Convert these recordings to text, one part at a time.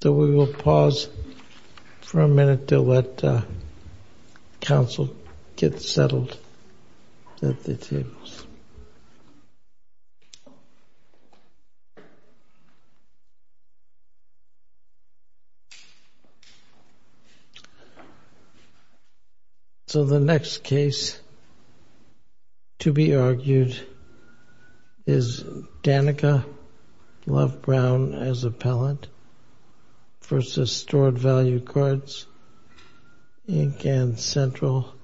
$3.889. So the next case to be argued is Danica Love-Brown as appellant versus Stored Value Cards, Inc. and Central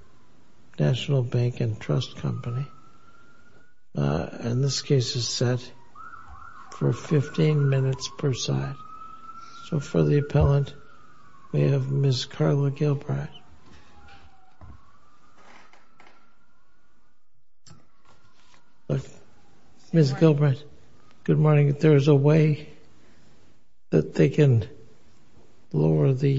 National Bank and Trust Company, and this case is set for 15 minutes per side. So for the appellant, we have Ms. Carla Gilbride. Ms. Gilbride, good morning. If there's a way that they can lower the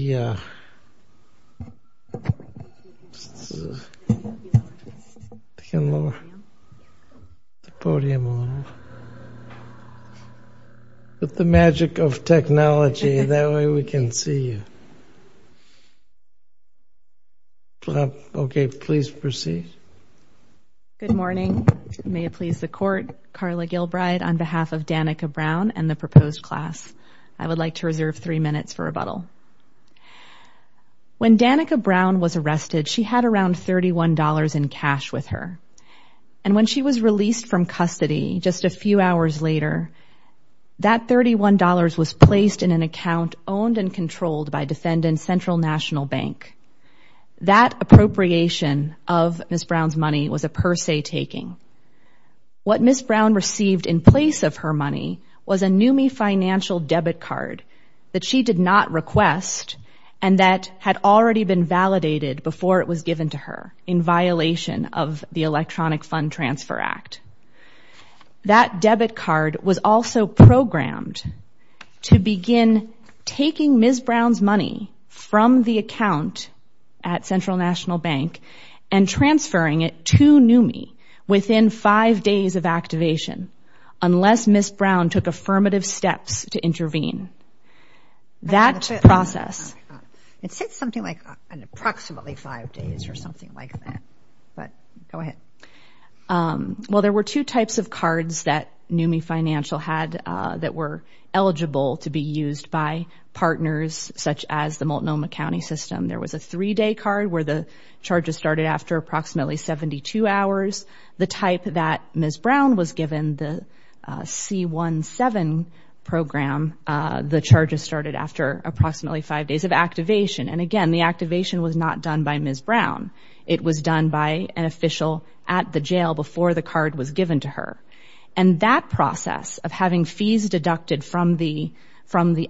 podium a little, with the magic of technology, that way we can see you. Okay, please proceed. Good morning. May it please the Court, Carla Gilbride on behalf of Danica Brown and the proposed class. I would like to reserve three minutes for rebuttal. When Danica Brown was arrested, she had around $31 in cash with her, and when she was released from custody just a few hours later, that $31 was placed in an account owned and controlled by Defendant Central National Bank. That appropriation of Ms. Brown's money was a per se taking. What Ms. Brown received in place of her money was a NUMMI financial debit card that she did not request, and that had already been validated before it was given to her in violation of the Electronic Fund Transfer Act. That debit card was also programmed to begin taking Ms. Brown's money from the account at Central National Bank and transferring it to NUMMI within five days of activation, unless Ms. Brown took affirmative steps to intervene. That process... It said something like approximately five days or something like that, but go ahead. Well, there were two types of cards that NUMMI Financial had that were eligible to be used by partners, such as the Multnomah County System. There was a three-day card where the charges started after approximately 72 hours. The type that Ms. Brown was given, the C-17 program, the charges started after approximately five days of activation. And again, the activation was not done by Ms. Brown. It was done by an official at the jail before the card was given to her. And that process of having fees deducted from the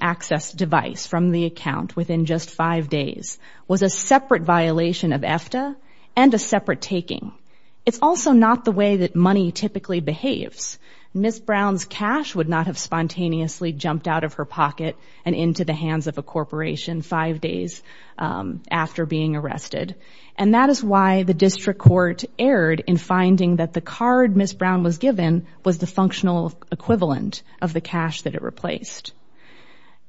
access device, from the account, within just five days, was a separate violation of EFTA and a separate taking. It's also not the way that money typically behaves. Ms. Brown's cash would not have spontaneously jumped out of her pocket and into the hands of a corporation five days after being arrested. And that is why the district court erred in finding that the card Ms. Brown was given was the functional equivalent of the cash that it replaced.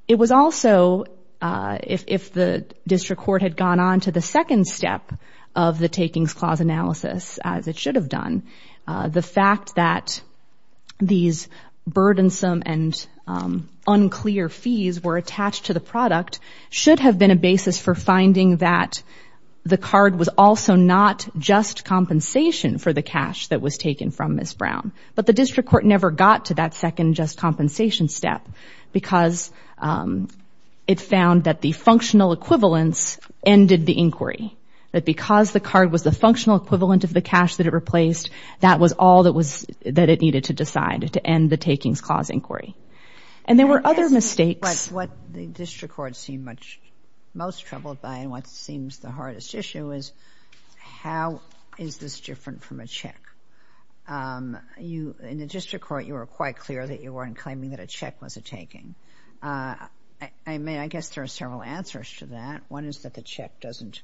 It was also, if the district court had gone on to the second step of the takings clause analysis, as it should have done, the fact that these burdensome and unclear fees were attached to the product should have been a basis for finding that the card was also not just compensation for the cash that was taken from Ms. Brown. But the district court never got to that second just compensation step because it found that the functional equivalence ended the inquiry. That because the card was the functional equivalent of the cash that it replaced, that was all that it needed to decide to end the takings clause inquiry. And there were other mistakes. What the district court seemed most troubled by and what seems the hardest issue is, how is this different from a check? In the district court, you were quite clear that you weren't claiming that a check was a taking. I mean, I guess there are several answers to that. One is that the check doesn't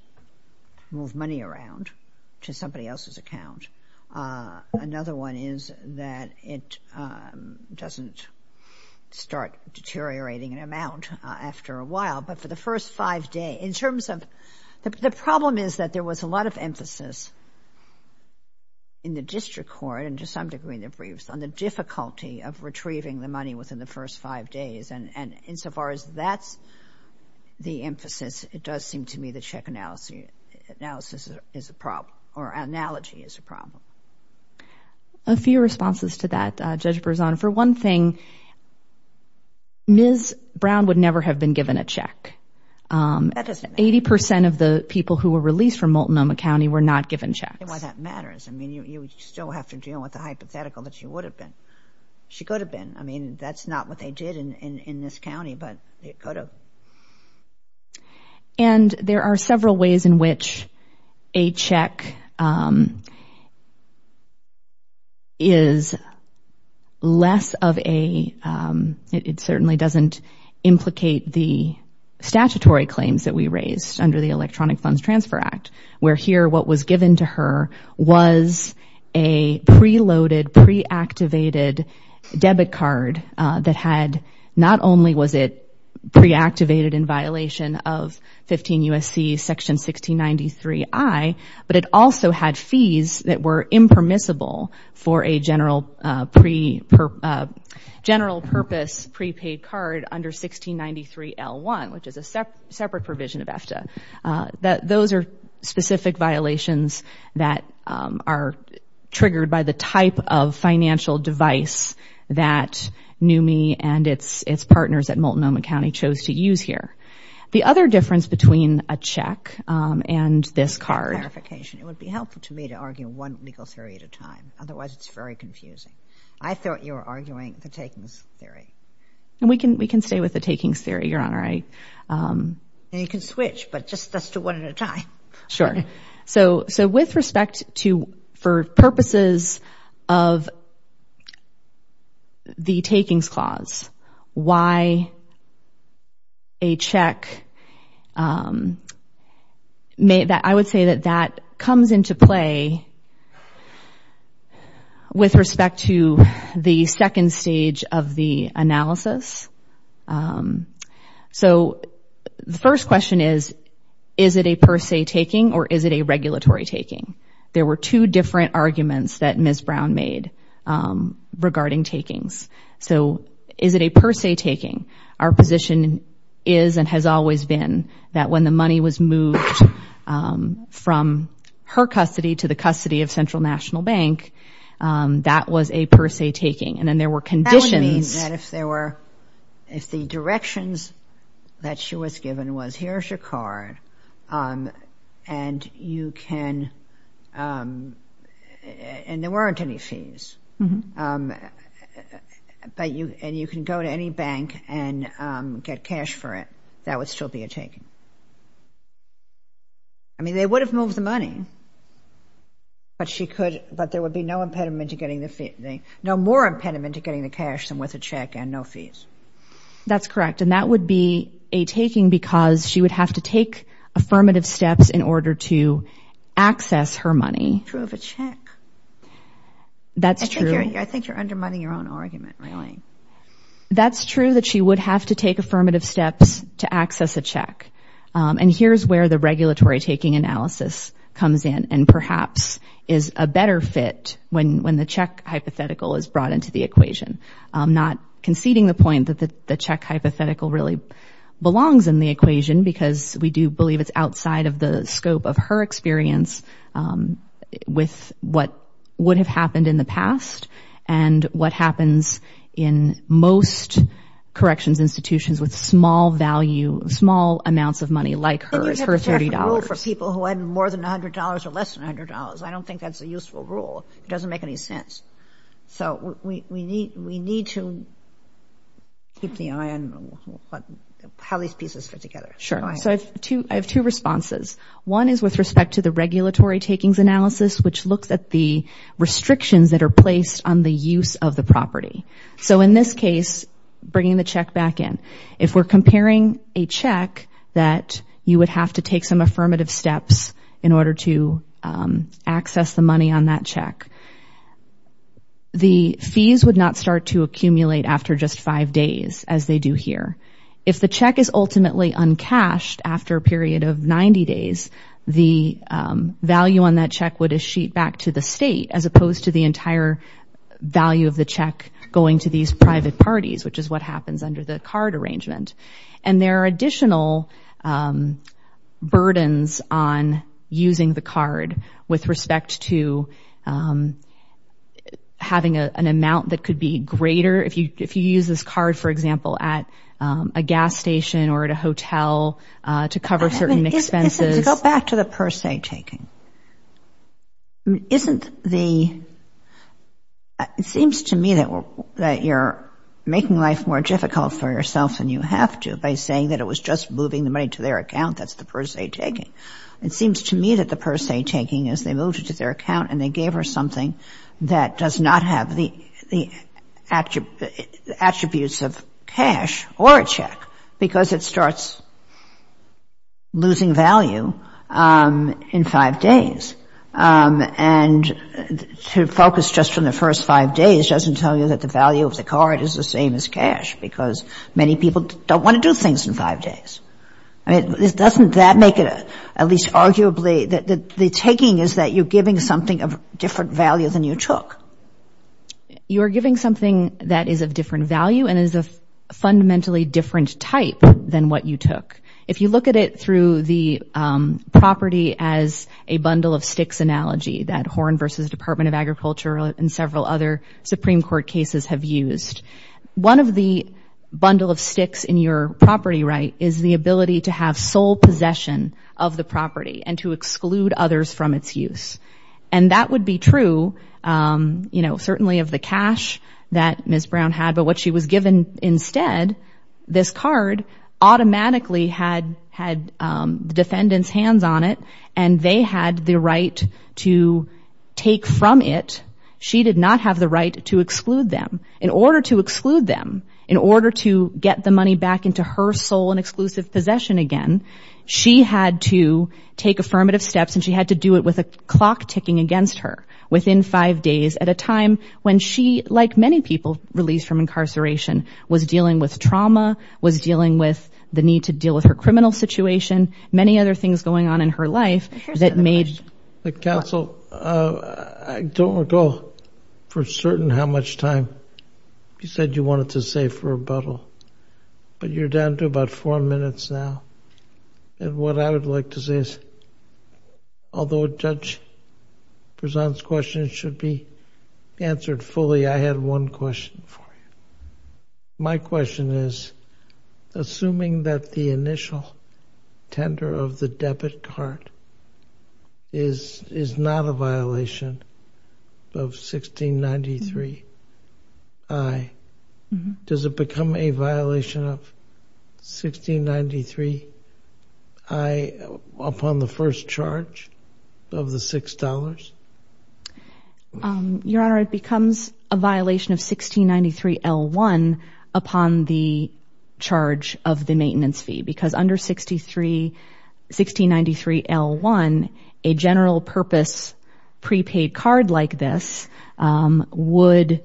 move money around to somebody else's account. Another one is that it doesn't start deteriorating in amount after a while. But for the first five days, in terms of the problem is that there was a lot of emphasis in the district court and to some degree in the briefs on the difficulty of retrieving the money within the first five days. And insofar as that's the emphasis, it does seem to me the check analysis is a problem or analogy is a problem. A few responses to that, Judge Berzon. For one thing, Ms. Brown would never have been given a check. That doesn't matter. Eighty percent of the people who were released from Multnomah County were not given checks. That's why that matters. I mean, you still have to deal with the hypothetical that she would have been. She could have been. I mean, that's not what they did in this county, but it could have. And there are several ways in which a check is less of a, it certainly doesn't implicate the statutory claims that we raised under the Electronic Funds Transfer Act, where here what was given to her was a preloaded, preactivated debit card that had, not only was it preactivated in violation of 15 U.S.C. Section 1693I, but it also had fees that were impermissible for a general purpose prepaid card under 1693L1, which is a separate provision of EFTA. Those are specific violations that are triggered by the type of financial device that NUMMI and its partners at Multnomah County chose to use here. The other difference between a check and this card. Just for clarification, it would be helpful to me to argue one legal theory at a time. Otherwise, it's very confusing. I thought you were arguing the takings theory. We can stay with the takings theory, Your Honor. And you can switch, but just as to one at a time. Sure. So with respect to, for purposes of the takings clause, why a check, I would say that that comes into play with respect to the second stage of the analysis. So the first question is, is it a per se taking or is it a regulatory taking? There were two different arguments that Ms. Brown made regarding takings. So is it a per se taking? Our position is and has always been that when the money was moved from her custody to the custody of Central National Bank, that was a per se taking. And then there were conditions. That would mean that if there were, if the directions that she was given was, here's your card and you can, and there weren't any fees, and you can go to any bank and get cash for it, that would still be a taking. I mean, they would have moved the money, but there would be no impediment to getting the fee. No more impediment to getting the cash than with a check and no fees. That's correct. And that would be a taking because she would have to take affirmative steps in order to access her money. True of a check. That's true. I think you're undermining your own argument, really. That's true that she would have to take affirmative steps to access a check. And here's where the regulatory taking analysis comes in and perhaps is a better fit when the check hypothetical is brought into the equation. Not conceding the point that the check hypothetical really belongs in the equation because we do believe it's outside of the scope of her experience with what would have happened in the past and what happens in most corrections institutions with small value, small amounts of money like hers, her $30. It's a rule for people who had more than $100 or less than $100. I don't think that's a useful rule. It doesn't make any sense. So we need to keep the eye on how these pieces fit together. Sure. So I have two responses. One is with respect to the regulatory takings analysis, which looks at the restrictions that are placed on the use of the property. So in this case, bringing the check back in, if we're comparing a check that you would have to take some affirmative steps in order to access the money on that check, the fees would not start to accumulate after just five days as they do here. If the check is ultimately uncashed after a period of 90 days, the value on that check would sheet back to the state, as opposed to the entire value of the check going to these private parties, which is what happens under the card arrangement. And there are additional burdens on using the card with respect to having an amount that could be greater if you use this card, for example, at a gas station or at a hotel to cover certain expenses. Go back to the per se taking. Isn't the — it seems to me that you're making life more difficult for yourself than you have to by saying that it was just moving the money to their account. That's the per se taking. It seems to me that the per se taking is they moved it to their account and they gave her something that does not have the attributes of cash or a check because it starts losing value in five days. And to focus just on the first five days doesn't tell you that the value of the card is the same as cash because many people don't want to do things in five days. I mean, doesn't that make it at least arguably — the taking is that you're giving something of different value than you took. You are giving something that is of different value and is a fundamentally different type than what you took. If you look at it through the property as a bundle of sticks analogy that Horn v. Department of Agriculture and several other Supreme Court cases have used, one of the bundle of sticks in your property right is the ability to have sole possession of the property and to exclude others from its use. And that would be true, you know, certainly of the cash that Ms. Brown had. But what she was given instead, this card, automatically had the defendant's hands on it and they had the right to take from it. She did not have the right to exclude them. In order to exclude them, in order to get the money back into her sole and exclusive possession again, she had to take affirmative steps and she had to do it with a clock ticking against her within five days at a time when she, like many people released from incarceration, was dealing with trauma, was dealing with the need to deal with her criminal situation, many other things going on in her life that made — Counsel, I don't recall for certain how much time you said you wanted to save for rebuttal, but you're down to about four minutes now. And what I would like to say is, although Judge Prezant's question should be answered fully, I had one question for you. My question is, assuming that the initial tender of the debit card is not a violation of 1693I, does it become a violation of 1693I upon the first charge of the $6? Your Honor, it becomes a violation of 1693L1 upon the charge of the maintenance fee because under 1693L1, a general-purpose prepaid card like this would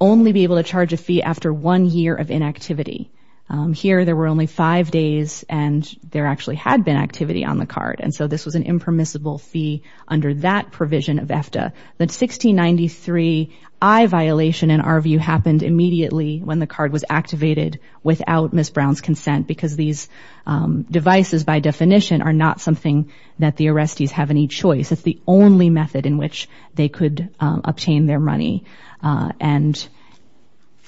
only be able to charge a fee after one year of inactivity. Here, there were only five days and there actually had been activity on the card, and so this was an impermissible fee under that provision of EFTA. The 1693I violation, in our view, happened immediately when the card was activated without Ms. Brown's consent because these devices, by definition, are not something that the arrestees have any choice. It's the only method in which they could obtain their money, and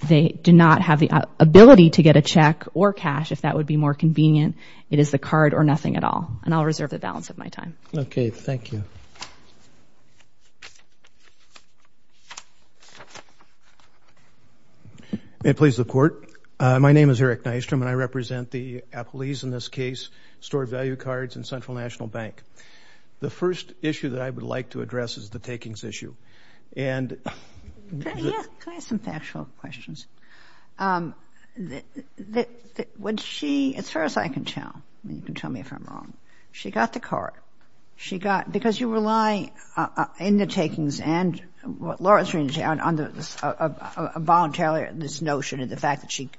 they do not have the ability to get a check or cash if that would be more convenient. It is the card or nothing at all, and I'll reserve the balance of my time. Okay, thank you. May it please the Court. My name is Eric Nystrom, and I represent the appellees in this case, stored value cards and Central National Bank. The first issue that I would like to address is the takings issue. Can I ask some factual questions? As far as I can tell, and you can tell me if I'm wrong, she got the card. Because you rely in the takings and what Laura is referring to, a voluntary notion of the fact that she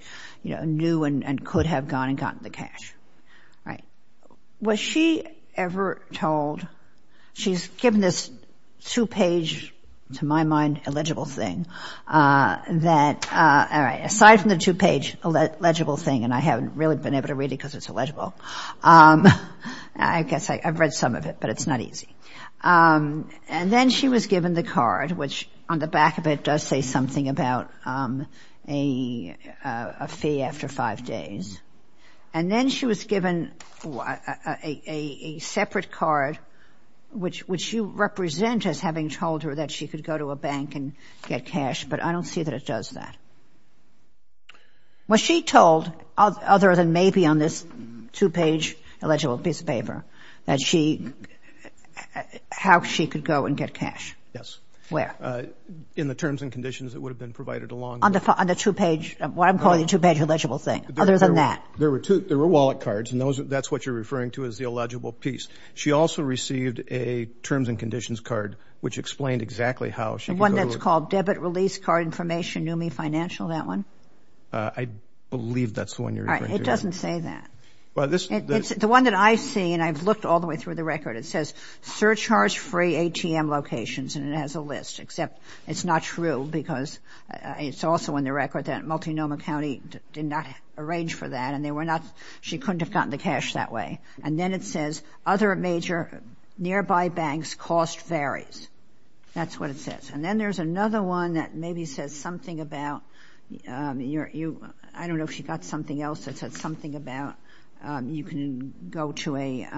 knew and could have gone and gotten the cash. Was she ever told, she's given this two-page, to my mind, illegible thing, that aside from the two-page illegible thing, and I haven't really been able to read it because it's illegible, I guess I've read some of it, but it's not easy. And then she was given the card, which on the back of it does say something about a fee after five days. And then she was given a separate card, which you represent as having told her that she could go to a bank and get cash, but I don't see that it does that. Was she told, other than maybe on this two-page illegible piece of paper, that she, how she could go and get cash? Yes. Where? In the terms and conditions that would have been provided along with it. On the two-page, what I'm calling the two-page illegible thing. Other than that. There were two, there were wallet cards, and that's what you're referring to as the illegible piece. She also received a terms and conditions card, which explained exactly how she could go to a bank. The one that's called debit release card information, new me financial, that one? I believe that's the one you're referring to. All right, it doesn't say that. The one that I see, and I've looked all the way through the record, it says surcharge-free ATM locations, and it has a list, except it's not true because it's also in the record that Multnomah County did not arrange for that, and they were not, she couldn't have gotten the cash that way. And then it says, other major nearby banks, cost varies. That's what it says. And then there's another one that maybe says something about, I don't know if she got something else that said something about you can go to a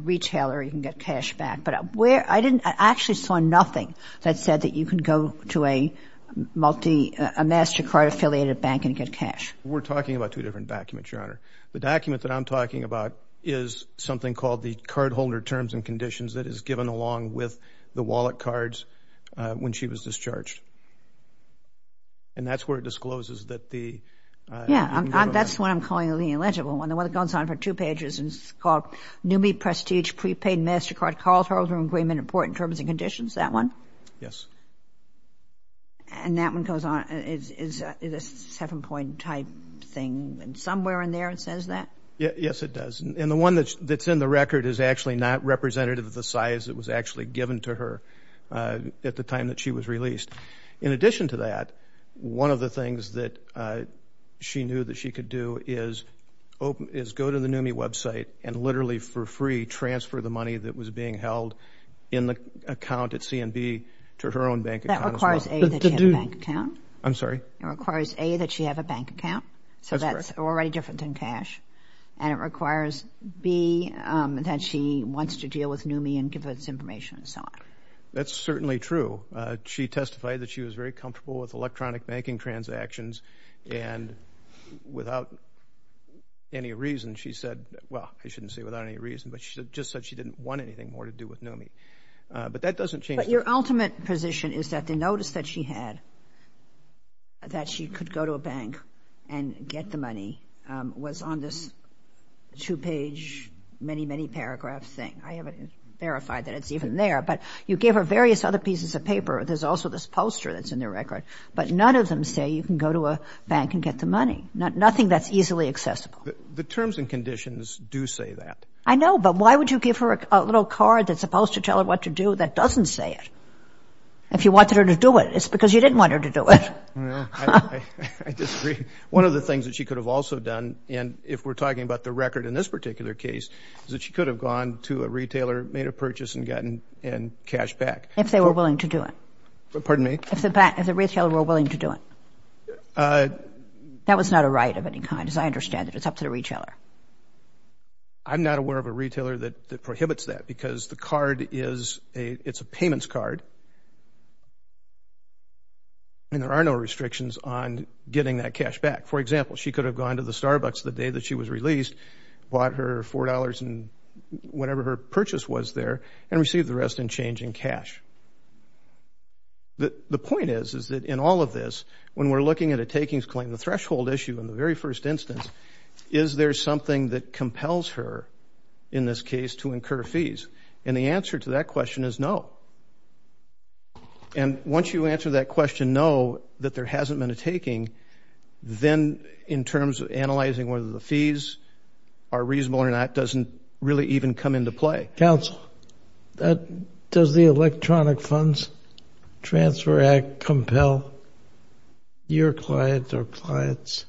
retailer, you can get cash back. But where, I didn't, I actually saw nothing that said that you can go to a multi, a MasterCard-affiliated bank and get cash. We're talking about two different documents, Your Honor. The document that I'm talking about is something called the cardholder terms and conditions that is given along with the wallet cards when she was discharged. And that's where it discloses that the. Yeah, that's what I'm calling the illegible one. The one that goes on for two pages and it's called newbie prestige prepaid MasterCard cardholder agreement important terms and conditions, that one? Yes. And that one goes on, it's a seven-point type thing, and somewhere in there it says that? Yes, it does. And the one that's in the record is actually not representative of the size that was actually given to her at the time that she was released. In addition to that, one of the things that she knew that she could do is go to the newbie website and literally for free transfer the money that was being held in the account at C&B to her own bank account. That requires A, that she had a bank account. I'm sorry? It requires A, that she had a bank account. So that's already different than cash. And it requires B, that she wants to deal with newbie and give us information and so on. That's certainly true. She testified that she was very comfortable with electronic banking transactions, and without any reason she said, well, I shouldn't say without any reason, but she just said she didn't want anything more to do with newbie. But that doesn't change the fact. But your ultimate position is that the notice that she had, that she could go to a bank and get the money was on this two-page many, many paragraph thing. I haven't verified that it's even there. But you gave her various other pieces of paper. There's also this poster that's in the record. But none of them say you can go to a bank and get the money. Nothing that's easily accessible. The terms and conditions do say that. I know, but why would you give her a little card that's supposed to tell her what to do that doesn't say it? If you wanted her to do it, it's because you didn't want her to do it. I disagree. One of the things that she could have also done, and if we're talking about the record in this particular case, is that she could have gone to a retailer, made a purchase, and gotten cash back. If they were willing to do it. Pardon me? If the retailer were willing to do it. That was not a right of any kind, as I understand it. It's up to the retailer. I'm not aware of a retailer that prohibits that, because the card is a payments card. And there are no restrictions on getting that cash back. For example, she could have gone to the Starbucks the day that she was released, bought her $4 and whatever her purchase was there, and received the rest in change in cash. The point is, is that in all of this, when we're looking at a takings claim, the threshold issue in the very first instance, is there something that compels her, in this case, to incur fees? And the answer to that question is no. And once you answer that question no, that there hasn't been a taking, then in terms of analyzing whether the fees are reasonable or not, doesn't really even come into play. Counsel, does the Electronic Funds Transfer Act compel your clients or clients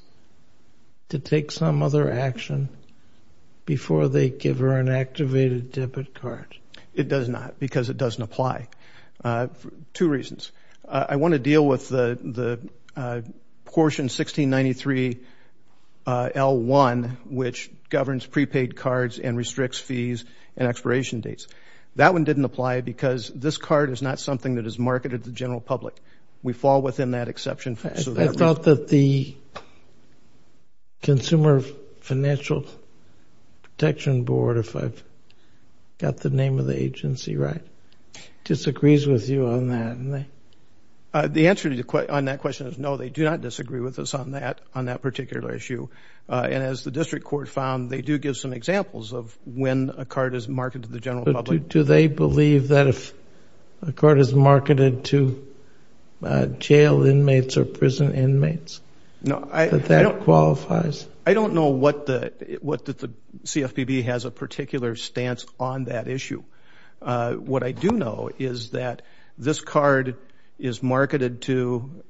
to take some other action before they give her an activated debit card? It does not, because it doesn't apply for two reasons. I want to deal with the portion 1693L1, which governs prepaid cards and restricts fees and expiration dates. That one didn't apply because this card is not something that is marketed to the general public. We fall within that exception. I thought that the Consumer Financial Protection Board, if I've got the name of the agency right, disagrees with you on that. The answer on that question is no, they do not disagree with us on that particular issue. And as the district court found, they do give some examples of when a card is marketed to the general public. Do they believe that if a card is marketed to jail inmates or prison inmates that that qualifies? I don't know what the CFPB has a particular stance on that issue. What I do know is that this card is marketed to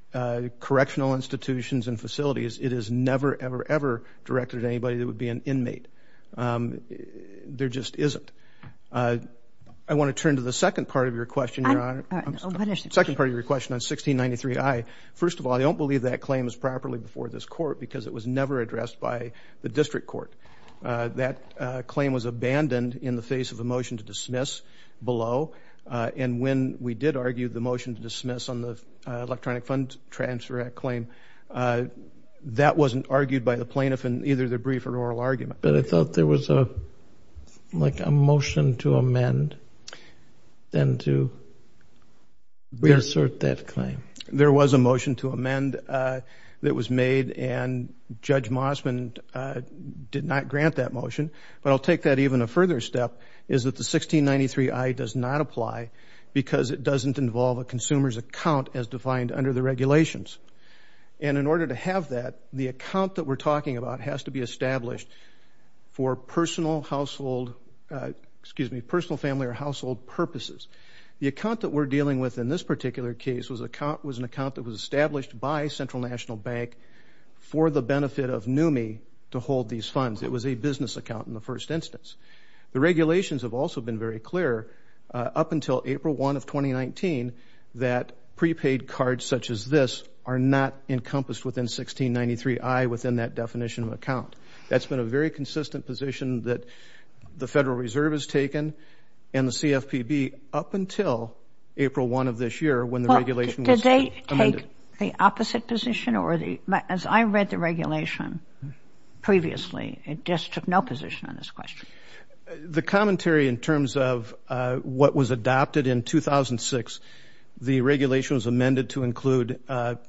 correctional institutions and facilities. It is never, ever, ever directed at anybody that would be an inmate. There just isn't. I want to turn to the second part of your question, Your Honor. What is it? The second part of your question on 1693I. First of all, I don't believe that claim was properly before this court because it was never addressed by the district court. That claim was abandoned in the face of a motion to dismiss below. And when we did argue the motion to dismiss on the Electronic Fund Transfer Act claim, that wasn't argued by the plaintiff in either the brief or oral argument. But I thought there was like a motion to amend then to reassert that claim. There was a motion to amend that was made, and Judge Mossman did not grant that motion. But I'll take that even a further step is that the 1693I does not apply because it doesn't involve a consumer's account as defined under the regulations. And in order to have that, the account that we're talking about has to be established for personal family or household purposes. The account that we're dealing with in this particular case was an account that was established by Central National Bank for the benefit of NUMMI to hold these funds. It was a business account in the first instance. The regulations have also been very clear up until April 1 of 2019 that prepaid cards such as this are not encompassed within 1693I within that definition of account. That's been a very consistent position that the Federal Reserve has taken and the CFPB up until April 1 of this year when the regulation was amended. Did it take the opposite position? As I read the regulation previously, it just took no position on this question. The commentary in terms of what was adopted in 2006, the regulation was amended to include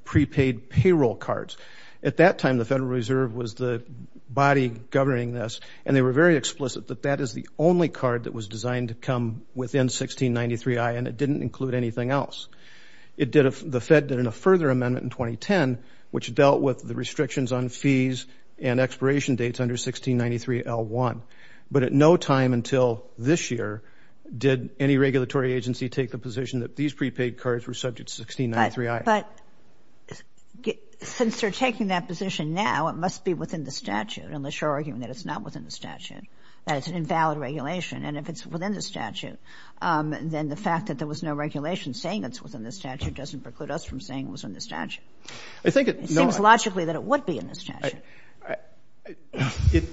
prepaid payroll cards. At that time, the Federal Reserve was the body governing this, and they were very explicit that that is the only card that was designed to come within 1693I, and it didn't include anything else. The Fed did a further amendment in 2010, which dealt with the restrictions on fees and expiration dates under 1693L1. But at no time until this year did any regulatory agency take the position that these prepaid cards were subject to 1693I. But since they're taking that position now, it must be within the statute, unless you're arguing that it's not within the statute, that it's an invalid regulation, and if it's within the statute, then the fact that there was no regulation saying it was within the statute doesn't preclude us from saying it was within the statute. It seems logically that it would be in the statute.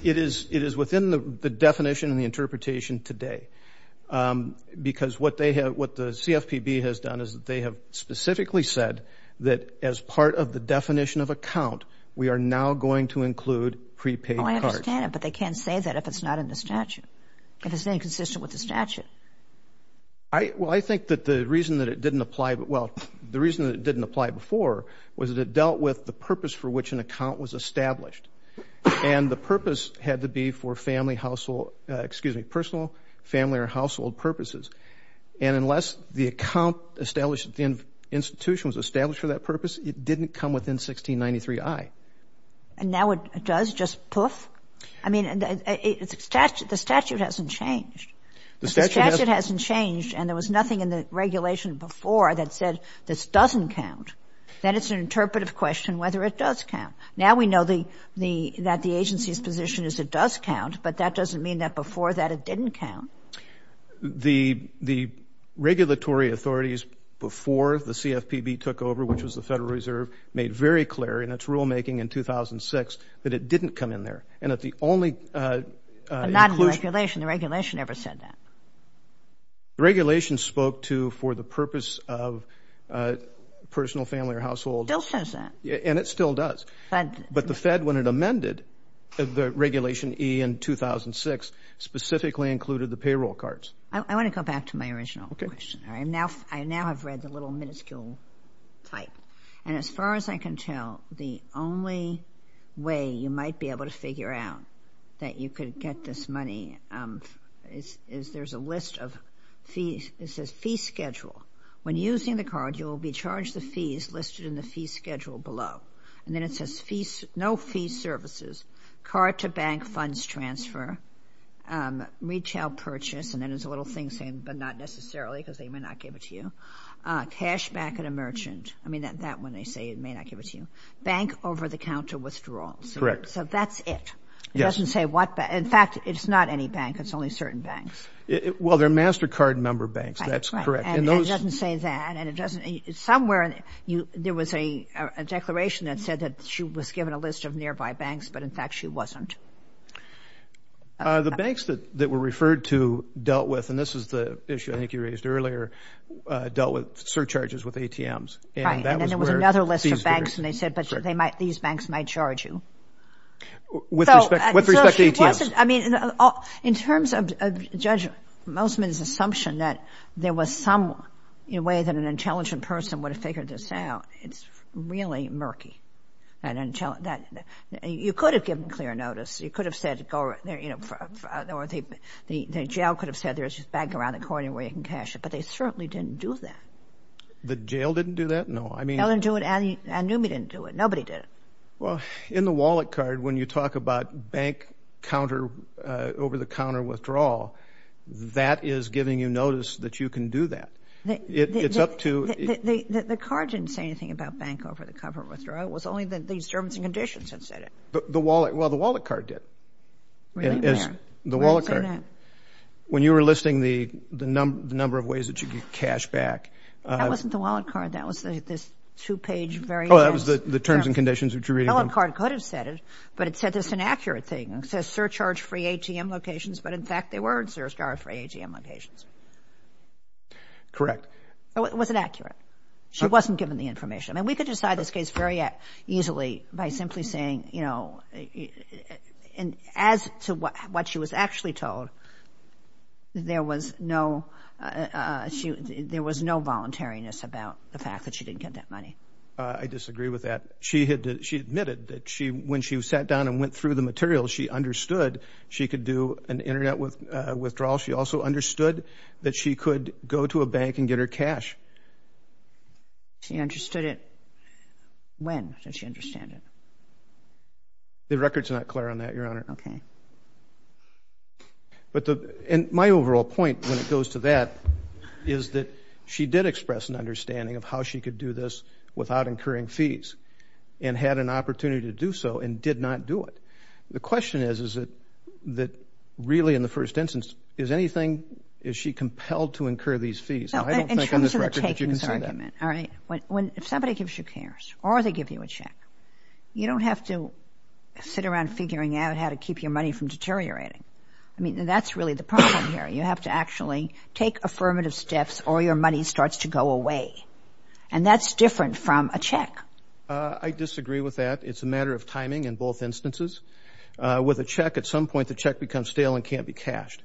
It is within the definition and the interpretation today, because what the CFPB has done is that they have specifically said that as part of the definition of account, we are now going to include prepaid cards. Oh, I understand that, but they can't say that if it's not in the statute, if it's inconsistent with the statute. Well, I think that the reason that it didn't apply, well, the reason that it didn't apply before was that it dealt with the purpose for which an account was established. And the purpose had to be for family, household, excuse me, personal, family, or household purposes. And unless the account established at the institution was established for that purpose, it didn't come within 1693I. And now it does, just poof? I mean, the statute hasn't changed. If the statute hasn't changed and there was nothing in the regulation before that said this doesn't count, then it's an interpretive question whether it does count. Now we know that the agency's position is it does count, but that doesn't mean that before that it didn't count. The regulatory authorities before the CFPB took over, which was the Federal Reserve, made very clear in its rulemaking in 2006 that it didn't come in there. And that the only inclusion. But not in the regulation. The regulation never said that. The regulation spoke to for the purpose of personal, family, or household. It still says that. And it still does. But the Fed, when it amended the Regulation E in 2006, specifically included the payroll cards. I want to go back to my original question. Okay. I now have read the little minuscule title. And as far as I can tell, the only way you might be able to figure out that you could get this money is there's a list of fees. It says fee schedule. When using the card, you will be charged the fees listed in the fee schedule below. And then it says no fee services. Card to bank funds transfer. Retail purchase. And then there's a little thing saying but not necessarily because they may not give it to you. Cash back at a merchant. I mean, that one they say it may not give it to you. Bank over-the-counter withdrawals. Correct. So that's it. It doesn't say what bank. In fact, it's not any bank. It's only certain banks. Well, they're MasterCard member banks. That's correct. And it doesn't say that. Somewhere there was a declaration that said that she was given a list of nearby banks, but, in fact, she wasn't. The banks that were referred to dealt with, and this is the issue I think you raised earlier, dealt with surcharges with ATMs. Right, and then there was another list of banks, and they said, but these banks might charge you. With respect to ATMs. I mean, in terms of Judge Mosman's assumption that there was some way that an intelligent person would have figured this out, it's really murky. You could have given clear notice. You could have said, you know, the jail could have said there's a bank around the corner where you can cash it, but they certainly didn't do that. The jail didn't do that? No, I mean. Allen Newman didn't do it. Nobody did it. Well, in the wallet card, when you talk about bank over-the-counter withdrawal, that is giving you notice that you can do that. It's up to. The card didn't say anything about bank over-the-counter withdrawal. It was only that these terms and conditions had said it. Well, the wallet card did. Really, Mayor? The wallet card. When you were listing the number of ways that you could cash back. That wasn't the wallet card. That was this two-page very... Oh, that was the terms and conditions that you were reading from. The wallet card could have said it, but it said there's an accurate thing. It says surcharge-free ATM locations, but, in fact, they weren't surcharge-free ATM locations. Correct. It wasn't accurate. I mean, we could decide this case very easily by simply saying, you know, as to what she was actually told, there was no voluntariness about the fact that she didn't get that money. I disagree with that. She admitted that when she sat down and went through the materials, she understood she could do an Internet withdrawal. She also understood that she could go to a bank and get her cash. She understood it. When did she understand it? The record's not clear on that, Your Honor. Okay. My overall point, when it goes to that, is that she did express an understanding of how she could do this without incurring fees and had an opportunity to do so and did not do it. The question is that, really, in the first instance, is she compelled to incur these fees? I don't think on this record that you can say that. In terms of the takings argument, all right, if somebody gives you cares or they give you a check, you don't have to sit around figuring out how to keep your money from deteriorating. I mean, that's really the problem here. You have to actually take affirmative steps or your money starts to go away, and that's different from a check. I disagree with that. It's a matter of timing in both instances. With a check, at some point the check becomes stale and can't be cashed.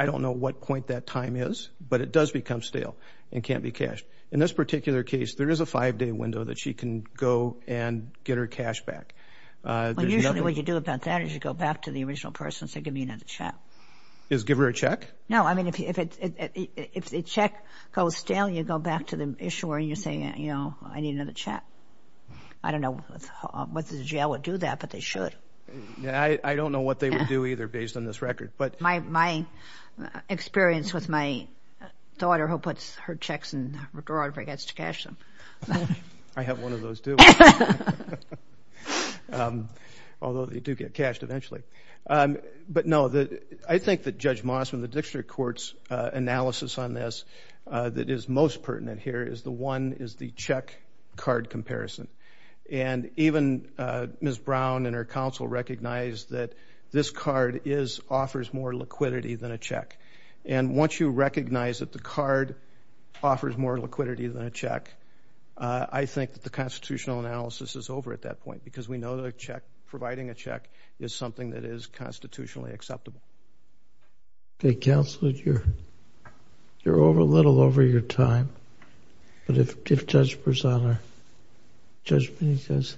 I don't know what point that time is, but it does become stale and can't be cashed. In this particular case, there is a five-day window that she can go and get her cash back. Usually what you do about that is you go back to the original person and say, give me another check. Give her a check? No. I mean, if the check goes stale, you go back to the issuer and you say, I need another check. I don't know whether the jail would do that, but they should. I don't know what they would do either based on this record. My experience with my daughter who puts her checks in her garage and forgets to cash them. I have one of those, too, although they do get cashed eventually. But, no, I think that Judge Mossman, the Dictator of Courts' analysis on this that is most pertinent here is the one is the check-card comparison. Even Ms. Brown and her counsel recognize that this card offers more liquidity than a check. Once you recognize that the card offers more liquidity than a check, I think that the constitutional analysis is over at that point because we know that providing a check is something that is constitutionally acceptable. Okay, counsel, you're a little over your time. But if Judge Berzon or Judge Benitez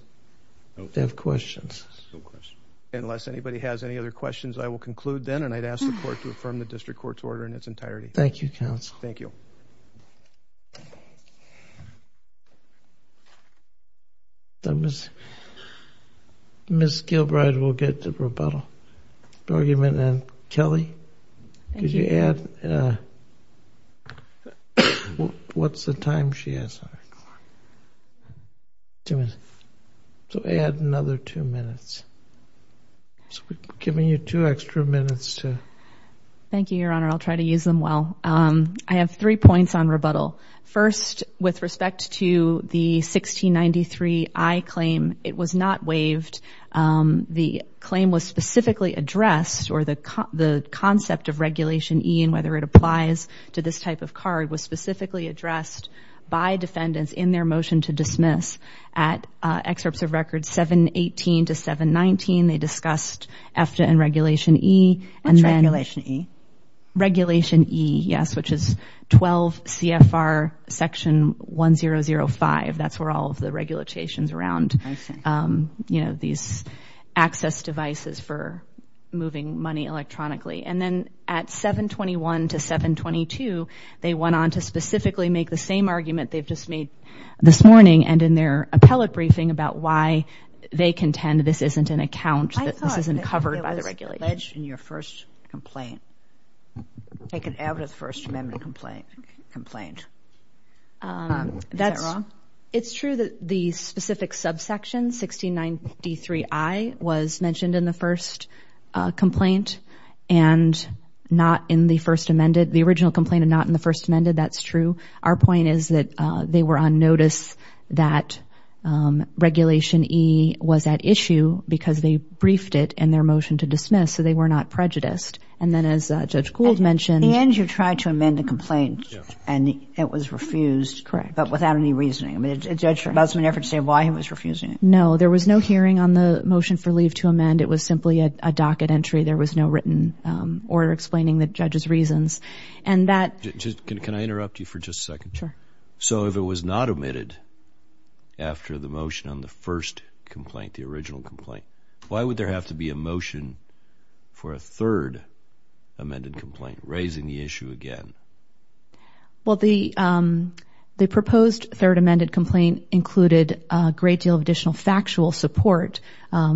have questions. No questions. Unless anybody has any other questions, I will conclude then, and I'd ask the Court to affirm the district court's order in its entirety. Thank you, counsel. Thank you. Ms. Gilbride will get the rebuttal. Argumentant Kelly, could you add? What's the time she has? Two minutes. So add another two minutes. We're giving you two extra minutes. Thank you, Your Honor. I'll try to use them well. I have three points on rebuttal. First, with respect to the 1693I claim, it was not waived. The claim was specifically addressed, or the concept of Regulation E and whether it applies to this type of card was specifically addressed by defendants in their motion to dismiss at Excerpts of Records 718 to 719. They discussed EFTA and Regulation E. What's Regulation E? Regulation E, yes, which is 12 CFR Section 1005. That's where all of the regulations around, you know, these access devices for moving money electronically. And then at 721 to 722, they went on to specifically make the same argument they've just made this morning and in their appellate briefing about why they contend this isn't an account, this isn't covered by the regulation. I thought it was alleged in your first complaint, taken out of the First Amendment complaint. Is that wrong? It's true that the specific subsection, 1693I, was mentioned in the first complaint and not in the First Amendment. The original complaint and not in the First Amendment, that's true. Our point is that they were on notice that Regulation E was at issue because they briefed it in their motion to dismiss, so they were not prejudiced. And then as Judge Gould mentioned. In the end, you tried to amend the complaint and it was refused. Correct. But without any reasoning. I mean, did Judge Busman ever say why he was refusing it? No. There was no hearing on the motion for leave to amend. It was simply a docket entry. There was no written order explaining the judge's reasons. And that. Can I interrupt you for just a second? Sure. So if it was not omitted after the motion on the first complaint, the original complaint, why would there have to be a motion for a third amended complaint, raising the issue again? Well, the proposed third amended complaint included a great deal of additional factual support,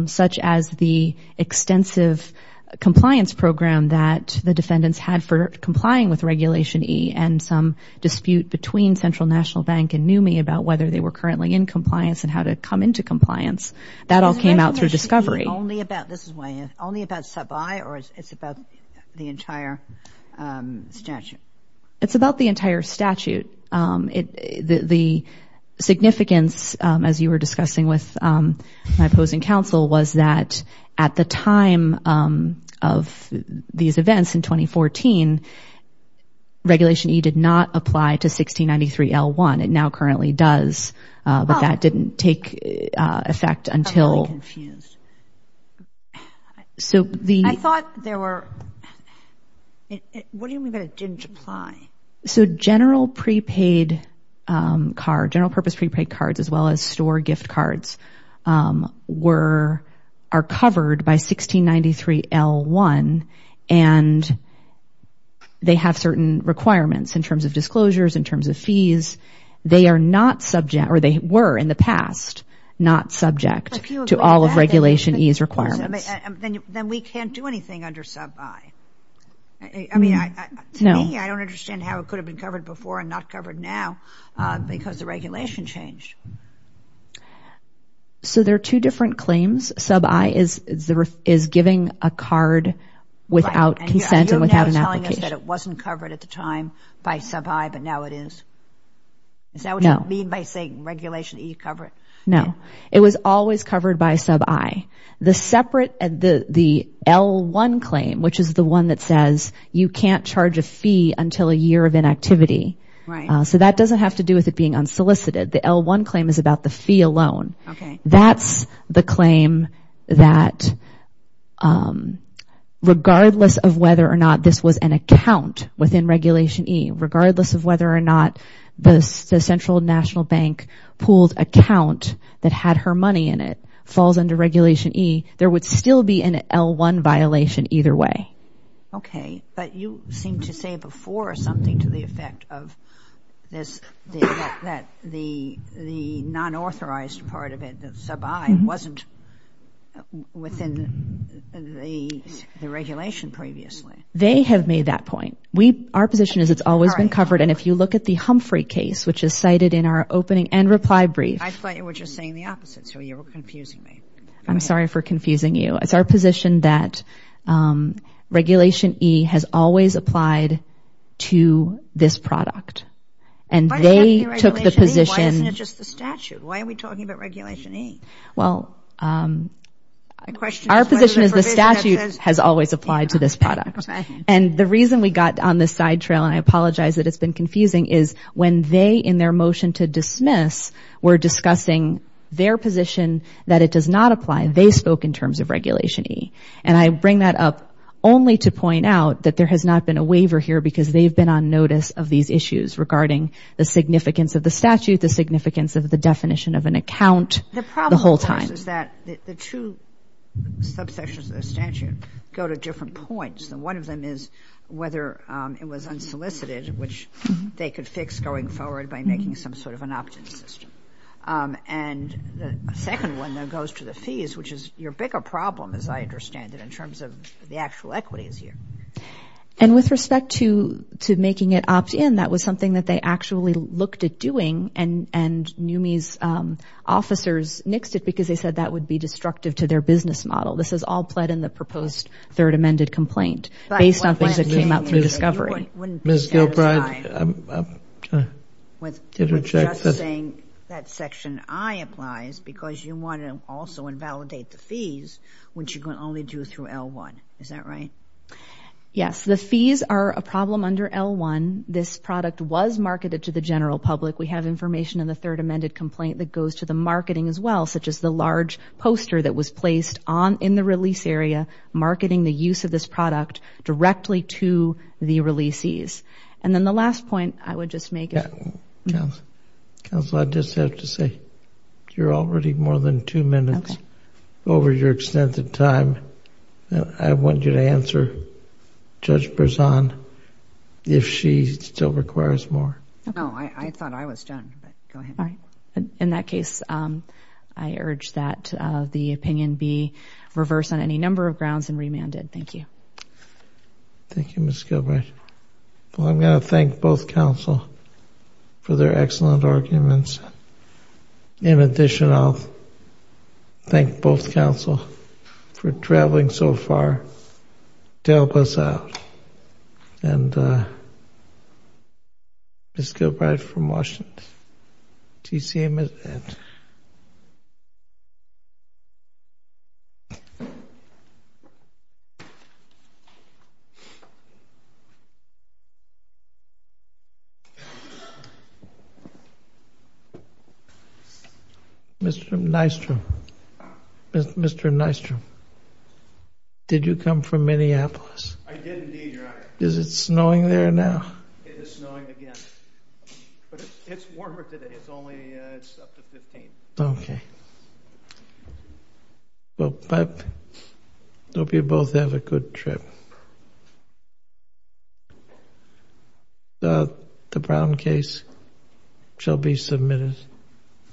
such as the extensive compliance program that the defendants had for complying with Regulation E and some dispute between Central National Bank and NUMMI about whether they were currently in compliance and how to come into compliance. That all came out through discovery. Is Regulation E only about, this is why I asked, only about sub I or it's about the entire statute? It's about the entire statute. The significance, as you were discussing with my opposing counsel, was that at the time of these events in 2014, Regulation E did not apply to 1693L1. It now currently does, but that didn't take effect until. I'm really confused. So the. I thought there were. What do you mean by it didn't apply? So general prepaid card, general purpose prepaid cards, as well as store gift cards, were, are covered by 1693L1 and they have certain requirements in terms of disclosures, in terms of fees. They are not subject, or they were in the past, not subject to all of Regulation E's requirements. Then we can't do anything under sub I. I mean, to me, I don't understand how it could have been covered before and not covered now because the regulation changed. So there are two different claims. Sub I is giving a card without consent and without an application. So you're telling us that it wasn't covered at the time by sub I, but now it is? Is that what you mean by saying Regulation E covered? No. It was always covered by sub I. The separate, the L1 claim, which is the one that says you can't charge a fee until a year of inactivity. Right. So that doesn't have to do with it being unsolicited. The L1 claim is about the fee alone. Okay. That's the claim that regardless of whether or not this was an account within Regulation E, regardless of whether or not the Central National Bank pooled account that had her money in it falls under Regulation E, there would still be an L1 violation either way. Okay, but you seemed to say before something to the effect of this, that the nonauthorized part of it, the sub I, wasn't within the regulation previously. They have made that point. Our position is it's always been covered, and if you look at the Humphrey case, which is cited in our opening and reply brief. I thought you were just saying the opposite, so you were confusing me. I'm sorry for confusing you. It's our position that Regulation E has always applied to this product. Why doesn't it have to be Regulation E? Why isn't it just the statute? Why are we talking about Regulation E? Well, our position is the statute has always applied to this product. And the reason we got on this side trail, and I apologize that it's been confusing, is when they, in their motion to dismiss, were discussing their position that it does not apply, they spoke in terms of Regulation E. And I bring that up only to point out that there has not been a waiver here because they've been on notice of these issues regarding the significance of the statute, the significance of the definition of an account the whole time. The problem is that the two subsections of the statute go to different points, and one of them is whether it was unsolicited, which they could fix going forward by making some sort of an opt-in system. And the second one that goes to the fees, which is your bigger problem, as I understand it, in terms of the actual equities here. And with respect to making it opt-in, that was something that they actually looked at doing, and NUMMI's officers nixed it because they said that would be destructive to their business model. This is all pled in the proposed third amended complaint, based on things that came out through discovery. Ms. Gilbride? With just saying that Section I applies because you want to also invalidate the fees, which you can only do through L1. Is that right? Yes. The fees are a problem under L1. This product was marketed to the general public. We have information in the third amended complaint that goes to the marketing as well, such as the large poster that was placed in the release area, marketing the use of this product directly to the releasees. And then the last point I would just make is... Counsel, I just have to say you're already more than two minutes over your extended time. I want you to answer Judge Berzon if she still requires more. No, I thought I was done. Go ahead. All right. In that case, I urge that the opinion be reversed on any number of grounds and remanded. Thank you. Thank you, Ms. Gilbride. Well, I'm going to thank both counsel for their excellent arguments. In addition, I'll thank both counsel for traveling so far to help us out. And Ms. Gilbride from Washington. Mr. Nystrom. Mr. Nystrom, did you come from Minneapolis? I did indeed, Your Honor. Is it snowing there now? It is snowing again. But it's warmer today. It's only up to 15. Okay. Well, I hope you both have a good trip. The Brown case shall be submitted.